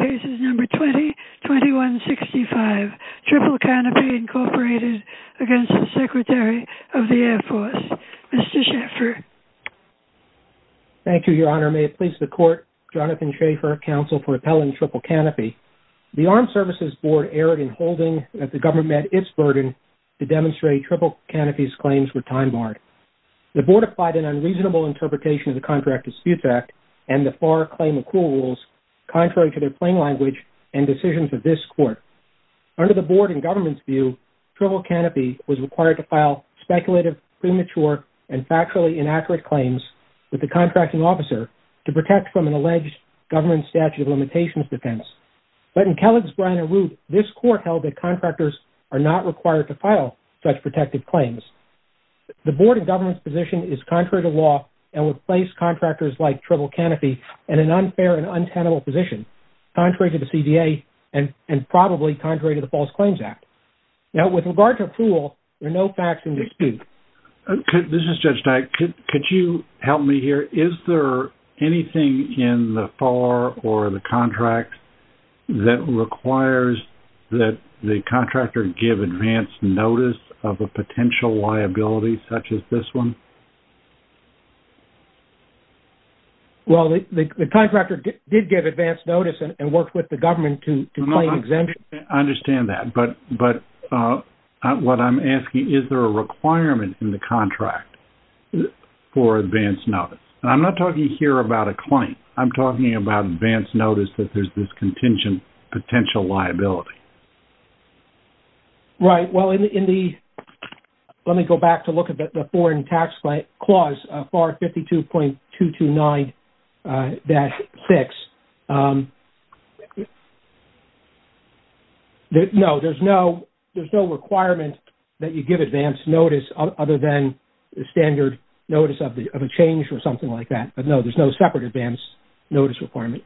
Cases No. 20-21-65 Triple Canopy, Inc. v. Secretary of the Air Force Mr. Schaffer Thank you, Your Honor. May it please the Court, Jonathan Schaffer, Counsel for Appellant Triple Canopy. The Armed Services Board erred in holding that the government met its burden to demonstrate Triple Canopy's claims were time-barred. The Board applied an unreasonable interpretation of the Contract Dispute Act and the FAR Claim Accrual Rules, contrary to their plain language and decisions of this Court. Under the Board and government's view, Triple Canopy was required to file speculative, premature, and factually inaccurate claims with the Contracting Officer to protect from an alleged government statute of limitations defense. But in Kellogg's, Bryan & Root, this Court held that contractors are not required to file such protective claims. The Board and government's position is contrary to law and would place contractors like Triple Canopy in an unfair and untenable position, contrary to the CDA, and probably contrary to the False Claims Act. Now, with regard to Apool, there are no facts in dispute. This is Judge Dyck. Could you help me here? Is there anything in the FAR or the Contract that requires that the contractor give advance notice of a potential liability such as this one? Well, the contractor did give advance notice and worked with the government to claim exemption. I understand that. But what I'm asking, is there a requirement in the contract for advance notice? And I'm not talking here about a claim. I'm talking about advance notice that there's this contingent potential liability. Right. Well, in the... Let me go back to look at the Foreign Tax Clause, FAR 52.229-6. No, there's no requirement that you give advance notice other than the standard notice of a change or something like that. But no, there's no separate advance notice requirement.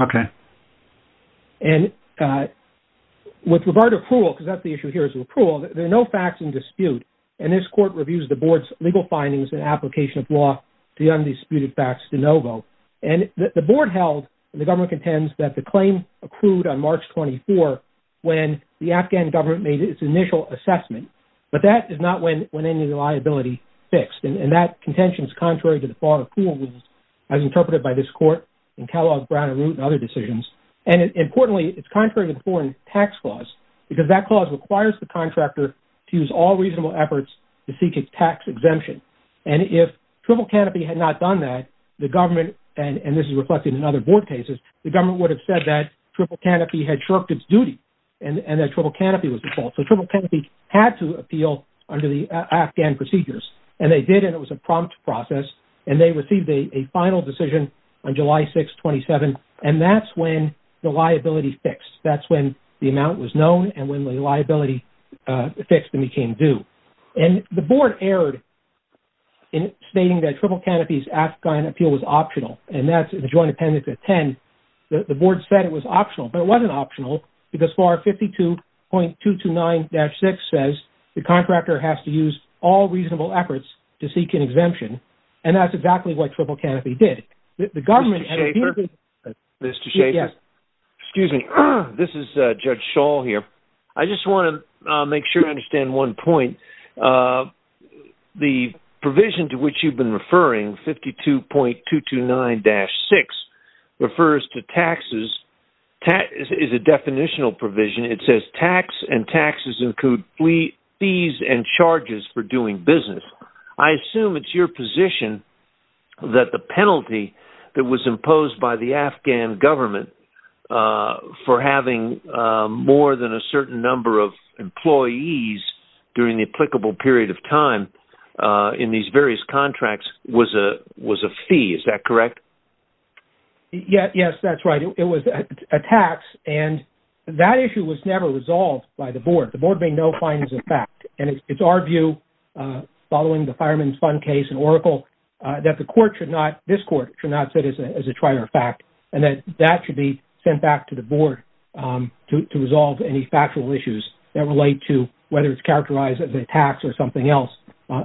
Okay. And with regard to Apool, because that's the issue here is with Apool, there are no facts in dispute. And this court reviews the board's legal findings and application of law to the undisputed facts de novo. And the board held, and the government contends, that the claim accrued on March 24, when the Afghan government made its initial assessment. But that is not when any liability fixed. And that contention is contrary to the FAR as interpreted by this court and Kellogg, Brown and Root and other decisions. And importantly, it's contrary to the Foreign Tax Clause, because that clause requires the contractor to use all reasonable efforts to seek a tax exemption. And if Triple Canopy had not done that, the government, and this is reflected in other board cases, the government would have said that Triple Canopy had shirked its duty and that Triple Canopy was at fault. So Triple Canopy had to appeal under the Afghan procedures. And they did, and it was a prompt process. And they received a final decision on July 6, 27. And that's when the liability fixed. That's when the amount was known and when the liability fixed and became due. And the board erred in stating that Triple Canopy's Afghan appeal was optional. And that's in the Joint Appendix 10. The board said it was optional, but it wasn't optional because FAR 52.229-6 says the contractor has to use all reasonable efforts to seek an exemption. And that's exactly what Triple Canopy did. The government... Mr. Schaffer? Mr. Schaffer? Yes. Excuse me. This is Judge Schall here. I just want to make sure I understand one point. The provision to which you've been referring, 52.229-6, refers to taxes, is a definitional provision. It says tax and taxes include fees and charges for doing business. I assume it's your position that the penalty that was imposed by the Afghan government for having more than a certain number of employees during the applicable period of time in these various contracts was a fee. Is that correct? Yes, that's right. It was a tax. And that issue was never resolved by the board. The board made no findings of fact. And it's our view, following the fireman's fund case in Oracle, that the court should not... This court should not sit as a trier of fact, and that that should be sent back to the board to resolve any factual issues that relate to whether it's characterized as a tax or something else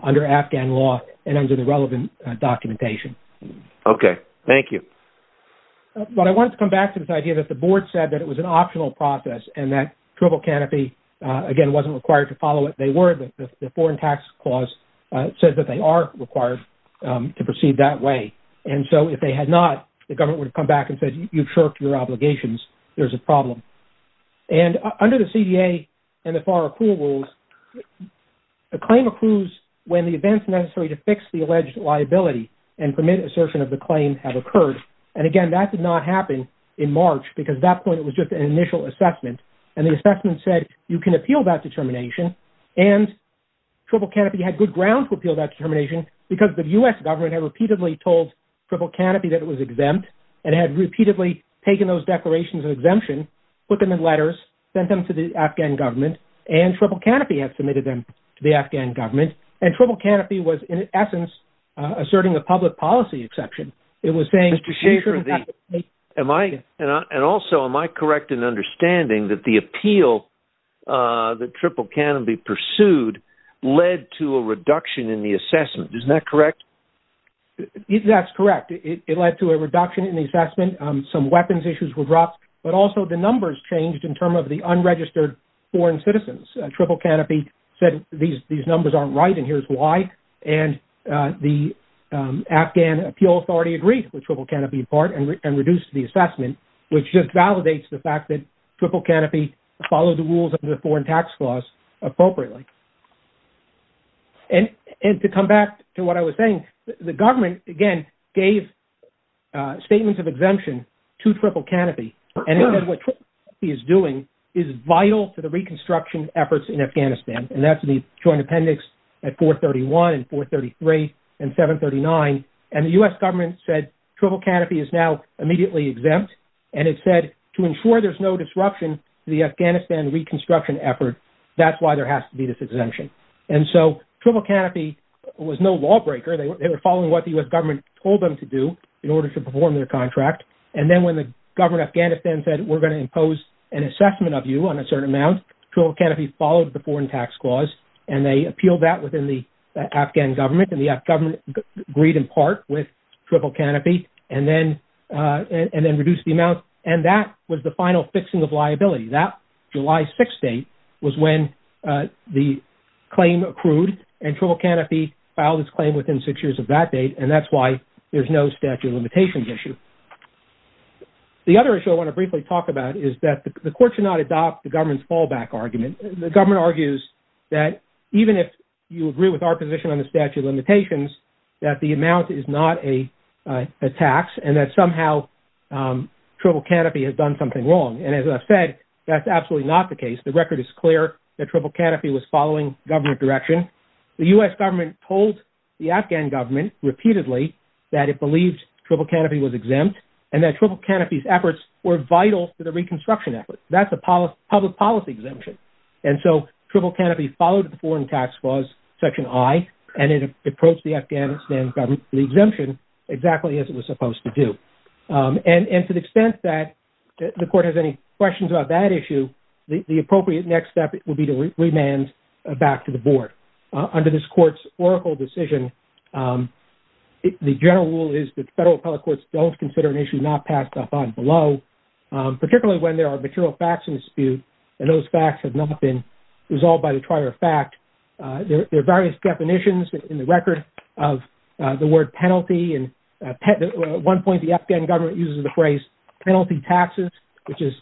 under Afghan law and under the relevant documentation. Okay, thank you. But I wanted to come back to this idea that the board said that it was an optional process and that triple canopy, again, wasn't required to follow it. They were, but the foreign tax clause says that they are required to proceed that way. And so if they had not, the government would come back and say, you've shirked your obligations. There's a problem. And under the CDA and the FAR accrual rules, a claim accrues when the events necessary to fix the alleged liability and permit assertion of the claim have occurred. And again, that did not happen in March, because at that point, it was just an initial assessment. And the assessment said, you can appeal that determination. And triple canopy had good ground to appeal that determination because the U.S. government had repeatedly told triple canopy that it was exempt and had repeatedly taken those declarations of exemption, put them in letters, sent them to the Afghan government, and triple canopy had submitted them to the Afghan government. And triple canopy was, in essence, asserting a public policy exception. It was saying- Mr. Schaefer, am I, and also, am I correct in understanding that the appeal that triple canopy pursued led to a reduction in the assessment? Isn't that correct? That's correct. It led to a reduction in the assessment. Some weapons issues were dropped, but also the numbers changed in terms of the unregistered foreign citizens. Triple canopy said these numbers aren't right, and here's why. And the Afghan appeal authority agreed with triple canopy in part and reduced the assessment, which just validates the fact that triple canopy followed the rules of the foreign tax clause appropriately. And to come back to what I was saying, the government, again, gave statements of exemption to triple canopy. And what triple canopy is doing is vital to the reconstruction efforts in Afghanistan. And that's the joint appendix at 431 and 433 and 739. And the U.S. government said triple canopy is now immediately exempt. And it said to ensure there's no disruption to the Afghanistan reconstruction effort, that's why there has to be this exemption. And so triple canopy was no lawbreaker. They were following what the U.S. told them to do in order to perform their contract. And then when the government of Afghanistan said, we're going to impose an assessment of you on a certain amount, triple canopy followed the foreign tax clause. And they appealed that within the Afghan government. And the Afghan government agreed in part with triple canopy and then reduced the amount. And that was the final fixing of liability. That July 6 date was when the claim accrued, and triple canopy filed its claim within six years of that date. And that's why there's no statute of limitations issue. The other issue I want to briefly talk about is that the court should not adopt the government's fallback argument. The government argues that even if you agree with our position on the statute of limitations, that the amount is not a tax, and that somehow triple canopy has done something wrong. And as I said, that's absolutely not the case. The record is clear that triple canopy was repeatedly that it believed triple canopy was exempt, and that triple canopy's efforts were vital to the reconstruction effort. That's a public policy exemption. And so triple canopy followed the foreign tax clause, section I, and it approached the Afghanistan government, the exemption, exactly as it was supposed to do. And to the extent that the court has any questions about that issue, the appropriate next step would be to remand back to the board. Under this court's oracle decision, the general rule is that federal appellate courts don't consider an issue not passed upon below, particularly when there are material facts in dispute, and those facts have not been resolved by the trial or fact. There are various definitions in the record of the word penalty. And at one point, the Afghan government uses the phrase penalty taxes, which is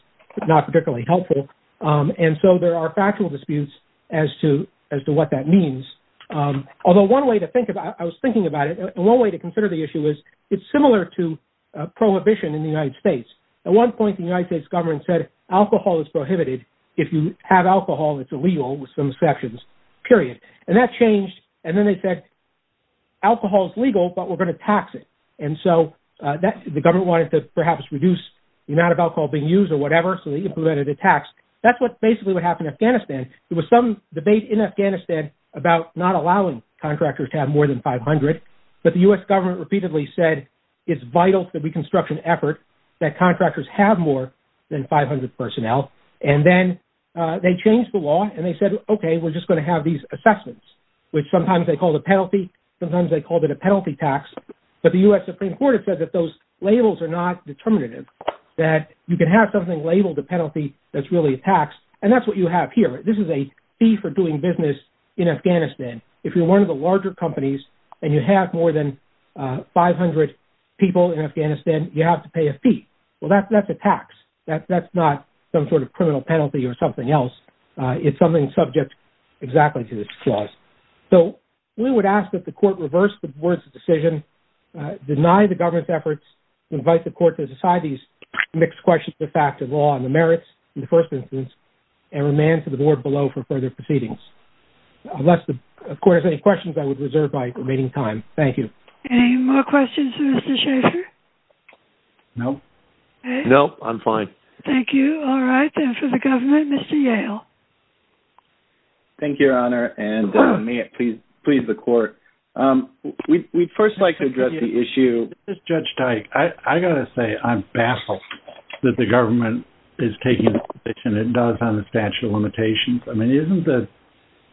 not particularly helpful. And so there are factual disputes as to what that means. Although one way to think about it, I was thinking about it, one way to consider the issue is it's similar to prohibition in the United States. At one point, the United States government said alcohol is prohibited. If you have alcohol, it's illegal with some sections, period. And that changed. And then they said, alcohol is legal, but we're going to tax it. And so the government wanted to perhaps reduce the amount of alcohol being used or whatever. So they implemented a tax. That's what basically what happened in Afghanistan. There was some debate in Afghanistan about not allowing contractors to have more than 500. But the U.S. government repeatedly said, it's vital to the reconstruction effort that contractors have more than 500 personnel. And then they changed the law and they said, okay, we're just going to have these assessments, which sometimes they called a penalty. Sometimes they called it a penalty tax. But the U.S. Supreme Court had said that those labels are not determinative, that you can have something labeled a penalty that's really a tax. And that's what you have here. This is a fee for doing business in Afghanistan. If you're one of the larger companies and you have more than 500 people in Afghanistan, you have to pay a fee. Well, that's a tax. That's not some sort of criminal penalty or something else. It's something subject exactly to this clause. So we would ask that the court reverse the board's decision, deny the government's efforts to invite the court to decide these mixed questions of the fact of law and the merits in the first instance, and remand to the board below for further proceedings. Unless the court has any questions, I would reserve my remaining time. Thank you. Any more questions for Mr. Schaefer? No. No, I'm fine. Thank you. All right. Then for the government, Mr. Yale. Thank you, Your Honor. And may it please the court. We'd first like to address the issue. This is Judge Teich. I got to say I'm baffled that the government is taking the position it does on the statute of limitations. I mean,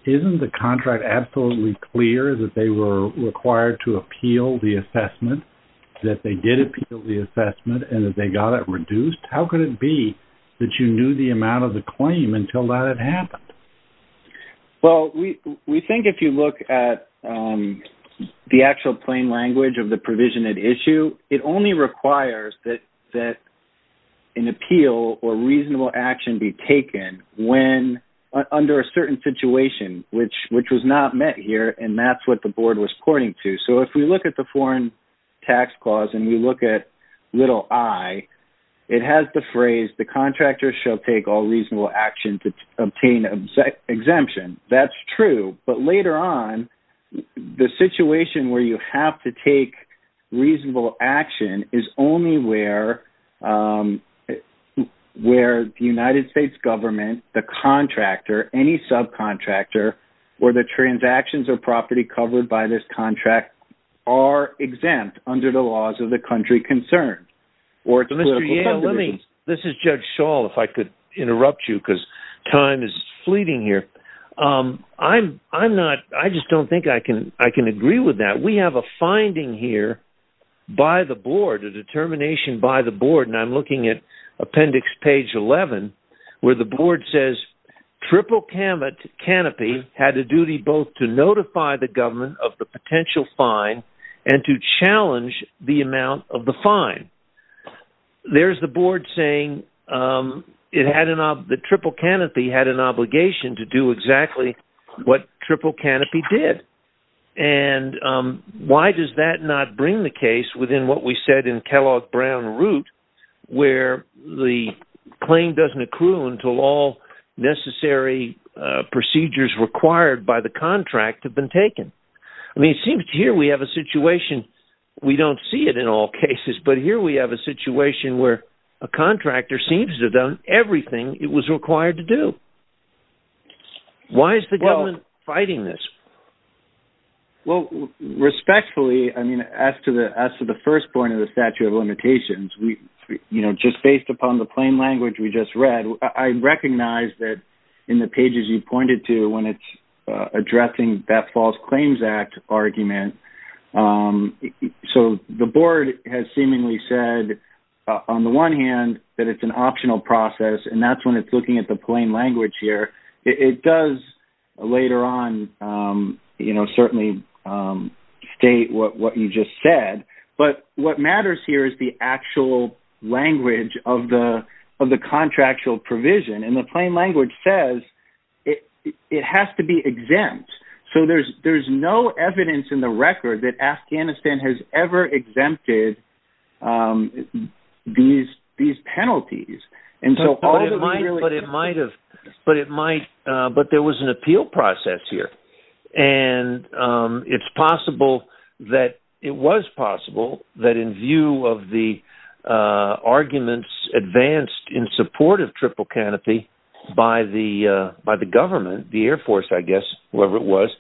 isn't the contract absolutely clear that they were required to appeal the assessment, that they did appeal the assessment and that they got it until that had happened? Well, we think if you look at the actual plain language of the provision at issue, it only requires that an appeal or reasonable action be taken under a certain situation, which was not met here. And that's what the board was according to. So if we look at the foreign tax clause and we look at little I, it has the phrase, the contractor shall take all reasonable action to obtain exemption. That's true. But later on, the situation where you have to take reasonable action is only where the United States government, the contractor, any subcontractor, or the transactions or property covered by this contract are exempt under the laws of the country concerned. This is Judge Shaw, if I could interrupt you because time is fleeting here. I just don't think I can agree with that. We have a finding here by the board, a determination by the board, and I'm looking at appendix page 11, where the board says triple canopy had a duty both to notify the government of the potential fine and to challenge the amount of the fine. There's the board saying the triple canopy had an obligation to do exactly what triple canopy did. And why does that not bring the case within what we said in Kellogg-Brown route, where the claim doesn't I mean, it seems here we have a situation, we don't see it in all cases, but here we have a situation where a contractor seems to have done everything it was required to do. Why is the government fighting this? Well, respectfully, I mean, as to the first point of the statute of limitations, we, you know, just based upon the plain language we just read, I recognize that in the pages you pointed to when it's addressing that false claims act argument. So the board has seemingly said, on the one hand, that it's an optional process. And that's when it's looking at the plain language here. It does later on, you know, certainly state what you just said. But what matters here is the actual language of the contractual provision and the plain language says, it has to be exempt. So there's no evidence in the record that Afghanistan has ever exempted these penalties. And so all that might have, but it might, but there was an possible that in view of the arguments advanced in support of triple canopy by the government, the Air Force, I guess, whoever it was,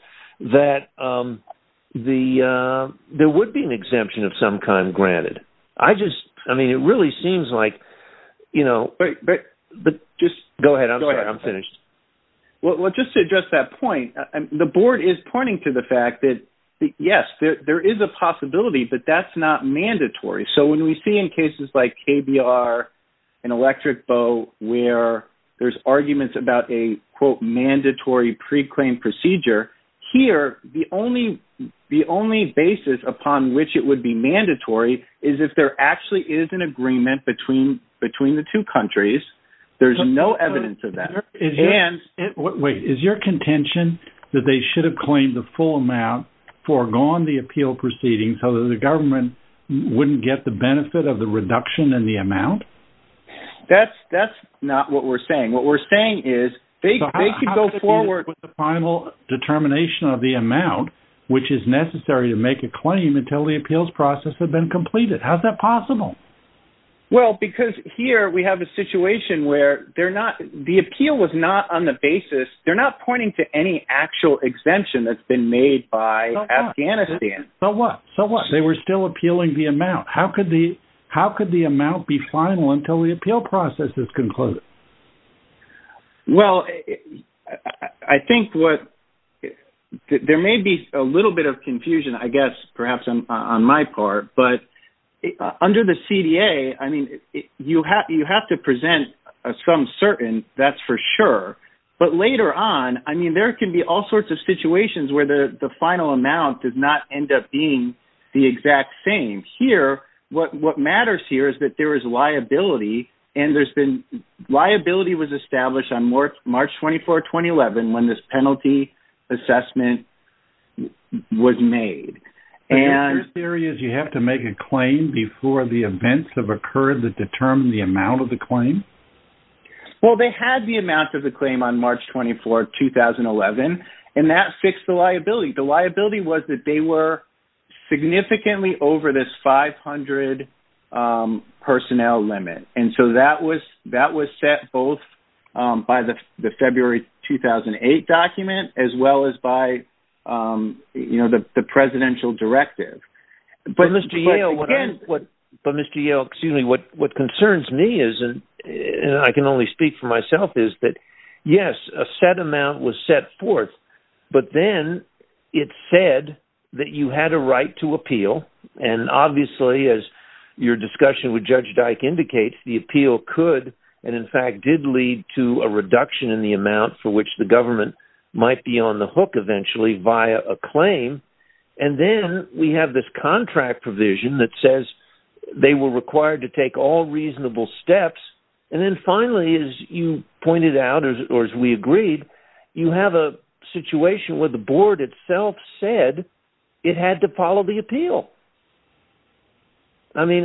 that there would be an exemption of some kind granted. I just, I mean, it really seems like, you know, but just go ahead. I'm finished. Well, just to address that point, the board is pointing to the fact that, yes, there is a possibility, but that's not mandatory. So when we see in cases like KBR and electric bow, where there's arguments about a quote, mandatory pre-claim procedure here, the only basis upon which it would be mandatory is if there actually is an agreement between the two countries, there's no evidence of that. And wait, is your contention that they should claim the full amount foregone the appeal proceeding so that the government wouldn't get the benefit of the reduction in the amount? That's not what we're saying. What we're saying is they could go forward with the final determination of the amount, which is necessary to make a claim until the appeals process had been completed. How's that possible? Well, because here we have a situation where they're not, the appeal was not on the basis. They're not pointing to any actual exemption that's been made by Afghanistan. So what? So what? They were still appealing the amount. How could the, how could the amount be final until the appeal process is concluded? Well, I think what, there may be a little bit of confusion, I guess, perhaps on my part, but under the CDA, I mean, you have to present some certain that's for sure. But later on, I mean, there can be all sorts of situations where the final amount does not end up being the exact same here. What matters here is that there is liability and there's been, liability was established on March 24, 2011, when this penalty assessment was made. And your theory is you have to make a claim before the events have occurred that determine the amount of the claim? Well, they had the amount of the claim on March 24, 2011, and that fixed the liability. The liability was that they were significantly over this 500 personnel limit. And so that was set both by the February 2008 document as well as by the presidential directive. But Mr. Yale, what concerns me is, and I can only speak for myself, is that yes, a set amount was set forth, but then it said that you had a right to appeal. And obviously, as your discussion with Judge Dyke indicates, the appeal could, and in fact, did lead to a reduction in the amount for which the government might be on the hook eventually via a claim. And then we have this contract provision that says they were required to take all reasonable steps. And then finally, as you pointed out, or as we agreed, you have a situation where the board itself said it had to follow the appeal. I mean,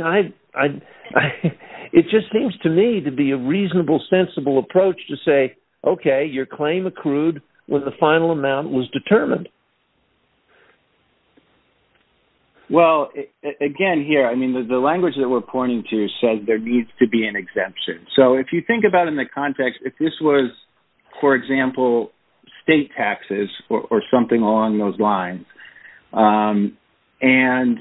it just seems to me to be a reasonable, sensible approach to say, okay, your claim accrued when the final amount was determined. Well, again, here, I mean, the language that we're pointing to says there needs to be an exemption. So if you think about it in the context, if this was, for example, state taxes or something along those lines, and,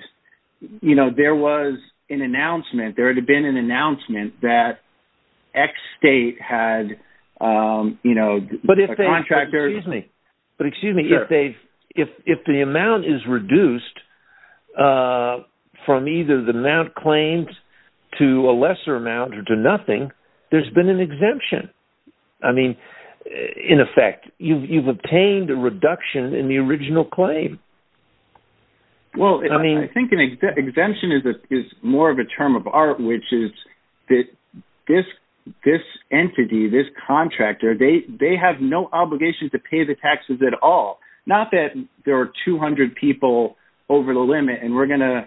you know, there was an announcement, there had been an announcement that X state had, you know, a contractor. Excuse me, but excuse me, if the amount is reduced from either the amount claimed to a lesser amount or to nothing, there's been an exemption. I mean, in effect, you've obtained a reduction in the original claim. Well, I mean, I think an exemption is more of a term of art, which is that this entity, this contractor, they have no obligations to pay the taxes at all. Not that there are 200 people over the limit, and we're going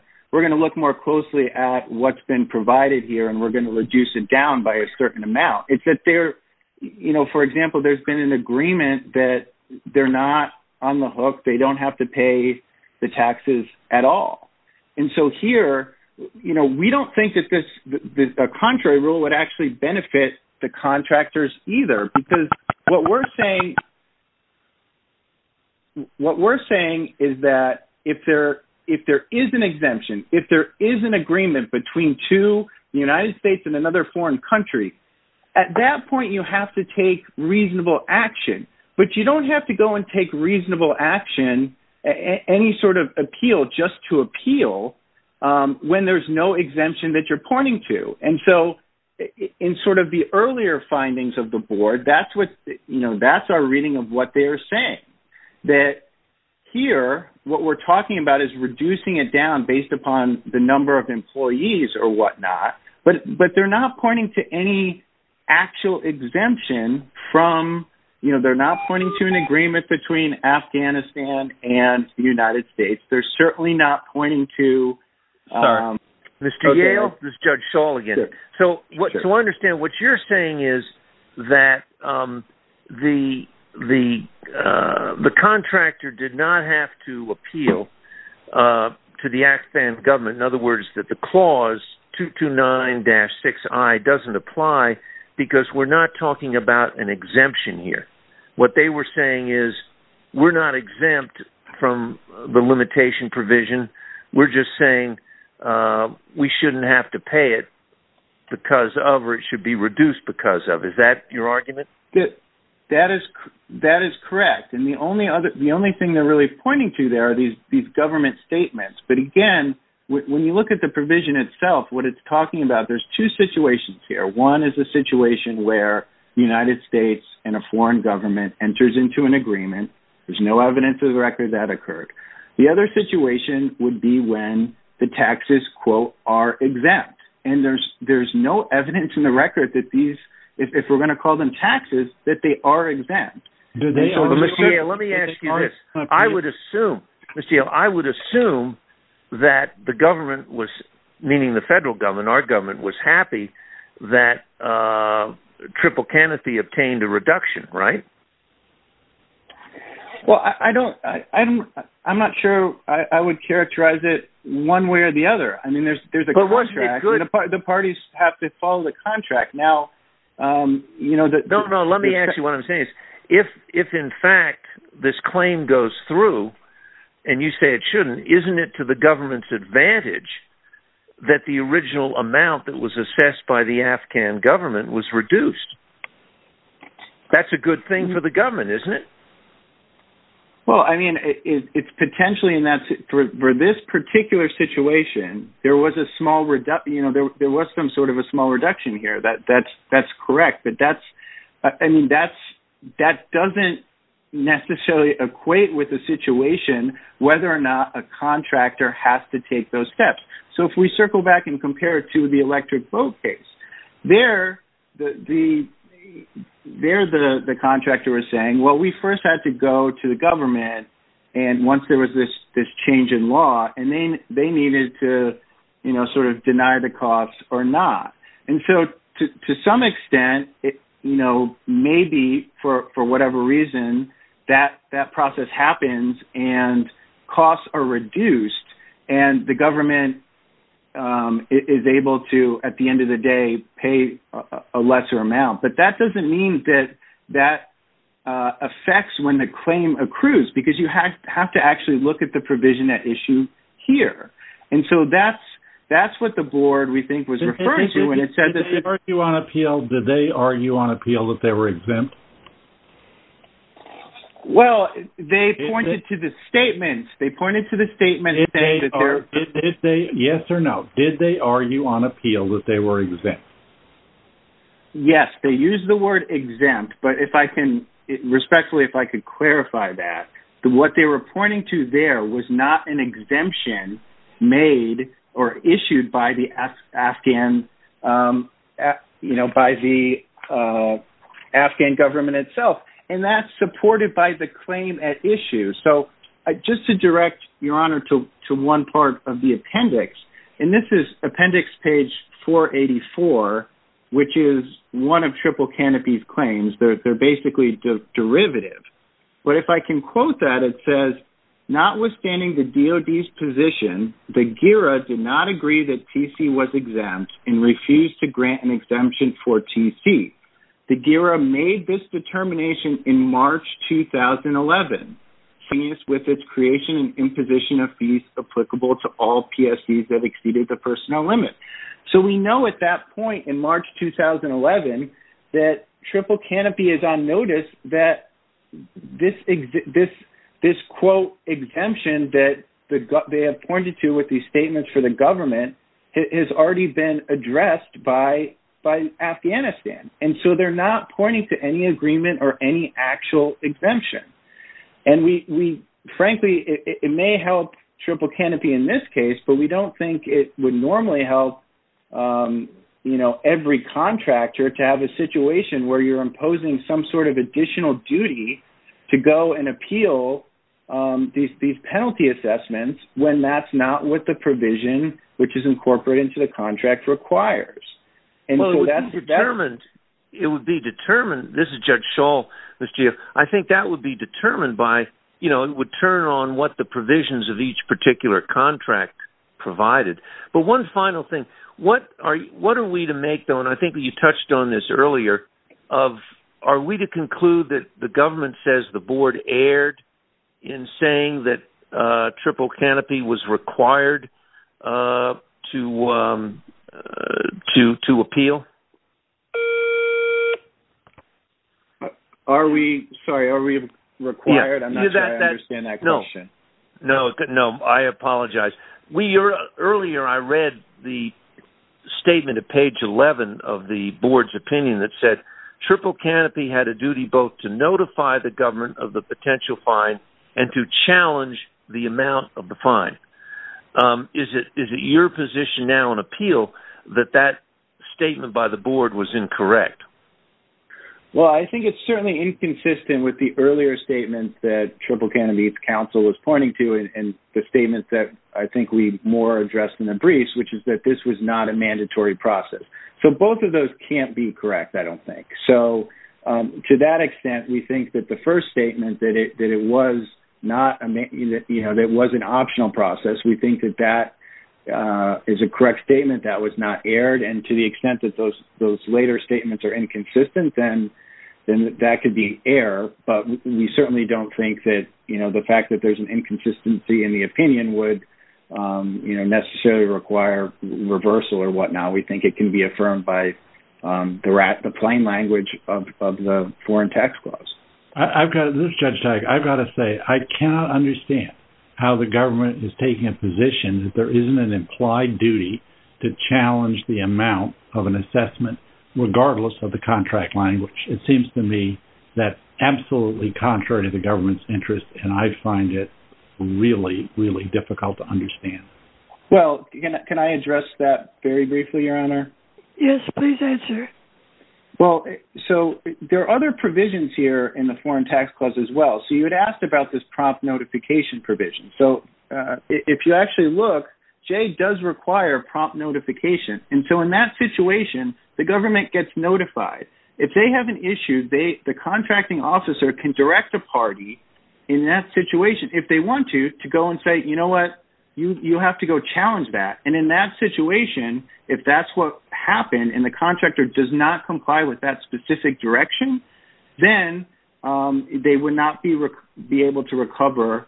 to look more closely at what's been provided here, we're going to reduce it down by a certain amount. It's that there, you know, for example, there's been an agreement that they're not on the hook, they don't have to pay the taxes at all. And so here, you know, we don't think that a contrary rule would actually benefit the contractors either, because what we're saying is that if there is an exemption, if there is an agreement between two, the United States and another foreign country, at that point, you have to take reasonable action. But you don't have to go and take reasonable action, any sort of appeal just to appeal when there's no exemption that you're pointing to. And so in sort of the earlier findings of the board, that's what, you know, that's our reading of what they're saying. That here, what we're talking about is reducing it based upon the number of employees or whatnot. But they're not pointing to any actual exemption from, you know, they're not pointing to an agreement between Afghanistan and the United States. They're certainly not pointing to... Sorry, Mr. Yale, this is Judge Shull again. So what you understand, what you're saying is that the contractor did not have to appeal to the Afghan government. In other words, that the clause 229-6I doesn't apply, because we're not talking about an exemption here. What they were saying is, we're not exempt from the limitation provision. We're just saying we shouldn't have to pay it because of, or it should be reduced because of. Is that your argument? That is correct. And the only thing they're really pointing to there are these government statements. But again, when you look at the provision itself, what it's talking about, there's two situations here. One is a situation where the United States and a foreign government enters into an agreement. There's no evidence of the record that occurred. The other situation would be when the taxes, quote, are exempt. And there's no evidence in the record that these, if we're going to call them taxes, that they are exempt. Mr. Yale, let me ask you this. I would assume, Mr. Yale, I would assume that the government was, meaning the federal government, our government was happy that Triple Kennethy obtained a reduction, right? Well, I don't, I'm not sure I would characterize it one way or the other. I mean, there's a the parties have to follow the contract. Now, um, you know, No, no. Let me ask you what I'm saying is if, if in fact this claim goes through and you say it shouldn't, isn't it to the government's advantage that the original amount that was assessed by the Afghan government was reduced? That's a good thing for the government, isn't it? Well, I mean, it's potentially in that for this particular situation, there was a small reduction, you know, there, there was some sort of a small reduction here that that's, that's correct. But that's, I mean, that's, that doesn't necessarily equate with the situation, whether or not a contractor has to take those steps. So if we circle back and compare it to the electric boat case there, the, the, there, the, the contractor was saying, well, we first had to go to the government. And once there was this, this change in law, and then they needed to, you know, sort of deny the costs or not. And so to, to some extent, it, you know, maybe for, for whatever reason, that, that process happens and costs are reduced and the government, um, is able to, at the end of the day, pay a lesser amount, but that doesn't mean that, that, uh, affects when the claim accrues because you have to actually look at the provision at issue here. And so that's, that's what the board we think was referring to when it said that... Did they argue on appeal, did they argue on appeal that they were exempt? Well, they pointed to the statements, they pointed to the statement that they are... Did they, yes or no, did they argue on appeal that they were exempt? Yes, they used the word exempt, but if I can respectfully, if I could clarify that, what they were pointing to there was not an exemption made or issued by the Afghan, you know, by the, uh, Afghan government itself, and that's supported by the claim at issue. So just to direct your honor to, to one part of the appendix, and this is appendix page 484, which is one of Triple Canopy's claims, they're, they're basically the derivative, but if I can quote that, it says, notwithstanding the DOD's position, the GIRA did not agree that TC was exempt and refused to grant an exemption for TC. The GIRA made this determination in March 2011, with its creation and imposition of fees applicable to all PSDs that exceeded the personnel limit. So we know at that point in March, 2011, that Triple Canopy is on notice that this, this, this quote exemption that they appointed to with these statements for the government has already been addressed by, by Afghanistan. And so they're not pointing to any agreement or any actual exemption. And we, we frankly, it may help Triple Canopy in this case, but we don't think it would normally help, um, you know, every contractor to have a situation where you're imposing some sort of additional duty to go and appeal, um, these, these penalty assessments when that's not what the provision, which is incorporated into the contract requires. And so that's determined, it would be determined, this is Judge Schall, Mr. Giaf, I think that would be determined by, you know, it would turn on what the provisions of each particular contract provided. But one final thing, what are you, what are we to make though, and I think you touched on this earlier, of, are we to conclude that the government says the board erred in saying that, uh, Triple Canopy was required, uh, to, um, uh, to, to appeal? Are we, sorry, are we required? I'm not sure I understand that question. No, no, I apologize. We, earlier I read the statement at page 11 of the board's opinion that said Triple Canopy had a duty both to notify the government of the potential fine and to challenge the amount of the fine. Um, is it, is it your position now on appeal that that statement by the board was incorrect? Well, I think it's certainly inconsistent with the earlier statements that Triple Canopy's counsel was pointing to and the statement that I think we more addressed in the briefs, which is that this was not a mandatory process. So both of those can't be correct, I don't think. So, um, to that extent, we think that the first statement that it, that it was not, you know, that it was an optional process, we think that that, uh, is a correct statement that was not erred. And to the extent that those, those later statements are inconsistent, then, then that could be an error. But we certainly don't think that, you know, the fact that there's an inconsistency in the opinion would, um, you know, necessarily require reversal or whatnot. We think it can be affirmed by, um, the rat, the plain language of, of the foreign tax clause. I've got to, this is Judge Teich, I've got to say, I cannot understand how the government is taking a position that there isn't an implied duty to challenge the amount of an assessment, regardless of the contract language. It seems to me that absolutely contrary to the government's interest, and I find it really, really difficult to understand. Well, can I address that very briefly, Your Honor? Yes, please answer. Well, so there are other provisions here in the foreign tax clause as well. So you had asked about this prompt notification provision. So, uh, if you actually look, Jay does require prompt notification. And so in that situation, the government gets notified. If they have an issue, they, the contracting officer can direct a party in that situation, if they want to, to go and say, you know what, you, you have to go challenge that. And in that situation, if that's what happened and the contractor does not comply with that specific direction, then they would not be able to recover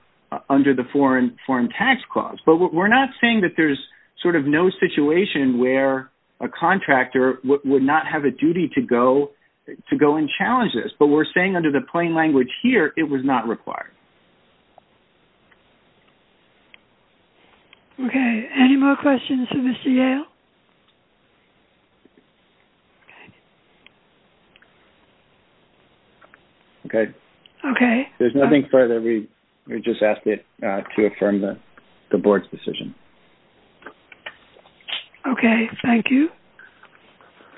under the foreign tax clause. But we're not saying that there's sort of no situation where a contractor would not have a duty to go and challenge this, but we're saying under the plain language here, it was not required. Okay. Any more questions for Mr. Yale? Okay. Okay. There's nothing further. We just asked it to affirm the board's decision. Okay. Thank you.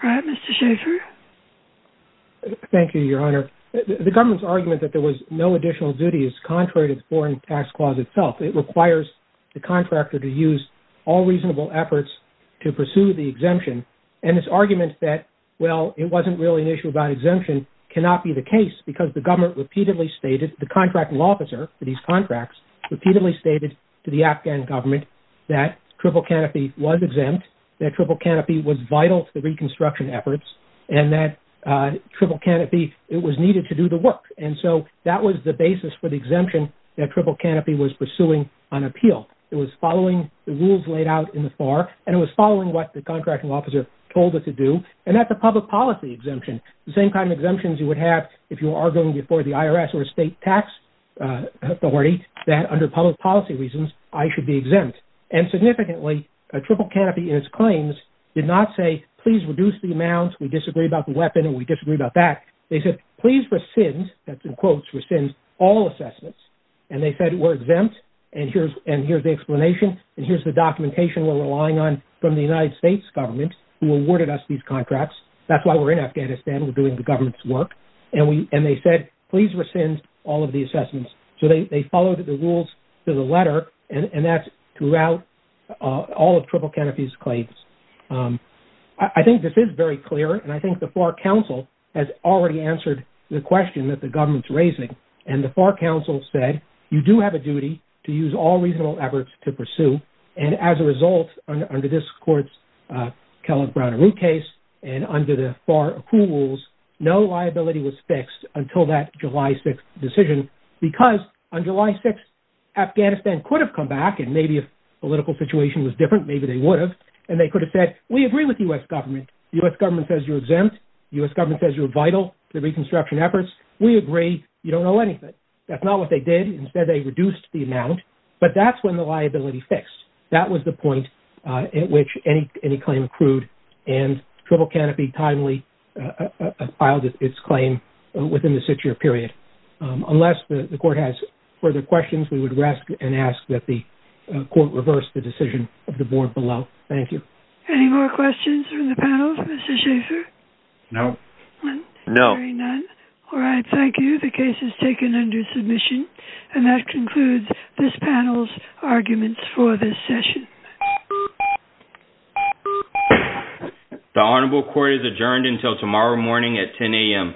All right. Mr. Schaffer. Thank you, Your Honor. The government's argument that there was no additional duty is contrary to contractor to use all reasonable efforts to pursue the exemption. And this argument that, well, it wasn't really an issue about exemption cannot be the case because the government repeatedly stated, the contracting officer for these contracts repeatedly stated to the Afghan government that Triple Canopy was exempt, that Triple Canopy was vital to the reconstruction efforts, and that Triple Canopy, it was needed to do the work. And so that was the basis for exemption that Triple Canopy was pursuing on appeal. It was following the rules laid out in the FAR, and it was following what the contracting officer told it to do. And that's a public policy exemption. The same kind of exemptions you would have if you were arguing before the IRS or state tax authority that under public policy reasons, I should be exempt. And significantly, Triple Canopy in its claims did not say, please reduce the amounts. We disagree about the weapon and we disagree about that. They said, please rescind, that's in quotes, rescind all assessments. And they said, we're exempt. And here's the explanation. And here's the documentation we're relying on from the United States government who awarded us these contracts. That's why we're in Afghanistan. We're doing the government's work. And they said, please rescind all of the assessments. So they followed the rules to the letter, and that's throughout all of Triple Canopy's claims. I think this is very clear. And I think the FAR Council has already answered the question that the government's raising. And the FAR Council said, you do have a duty to use all reasonable efforts to pursue. And as a result, under this court's Kellogg-Brown and Root case, and under the FAR rules, no liability was fixed until that July 6 decision, because on July 6, Afghanistan could have come back. And maybe if the political situation was different, maybe they would have. And they could have said, we agree with the U.S. government. The U.S. government says you're exempt. The U.S. government says you're vital to the reconstruction efforts. We agree. You don't know anything. That's not what they did. Instead, they reduced the amount. But that's when the liability fixed. That was the point at which any claim accrued. And Triple Canopy timely filed its claim within the six-year period. Unless the court has further questions, we would rest and ask that the court reverse the decision of the board below. Thank you. Any more questions from the panel, Mr. Schaffer? No. No. All right. Thank you. The case is taken under submission. And that concludes this panel's arguments for this session. The honorable court is adjourned until tomorrow morning at 10 a.m.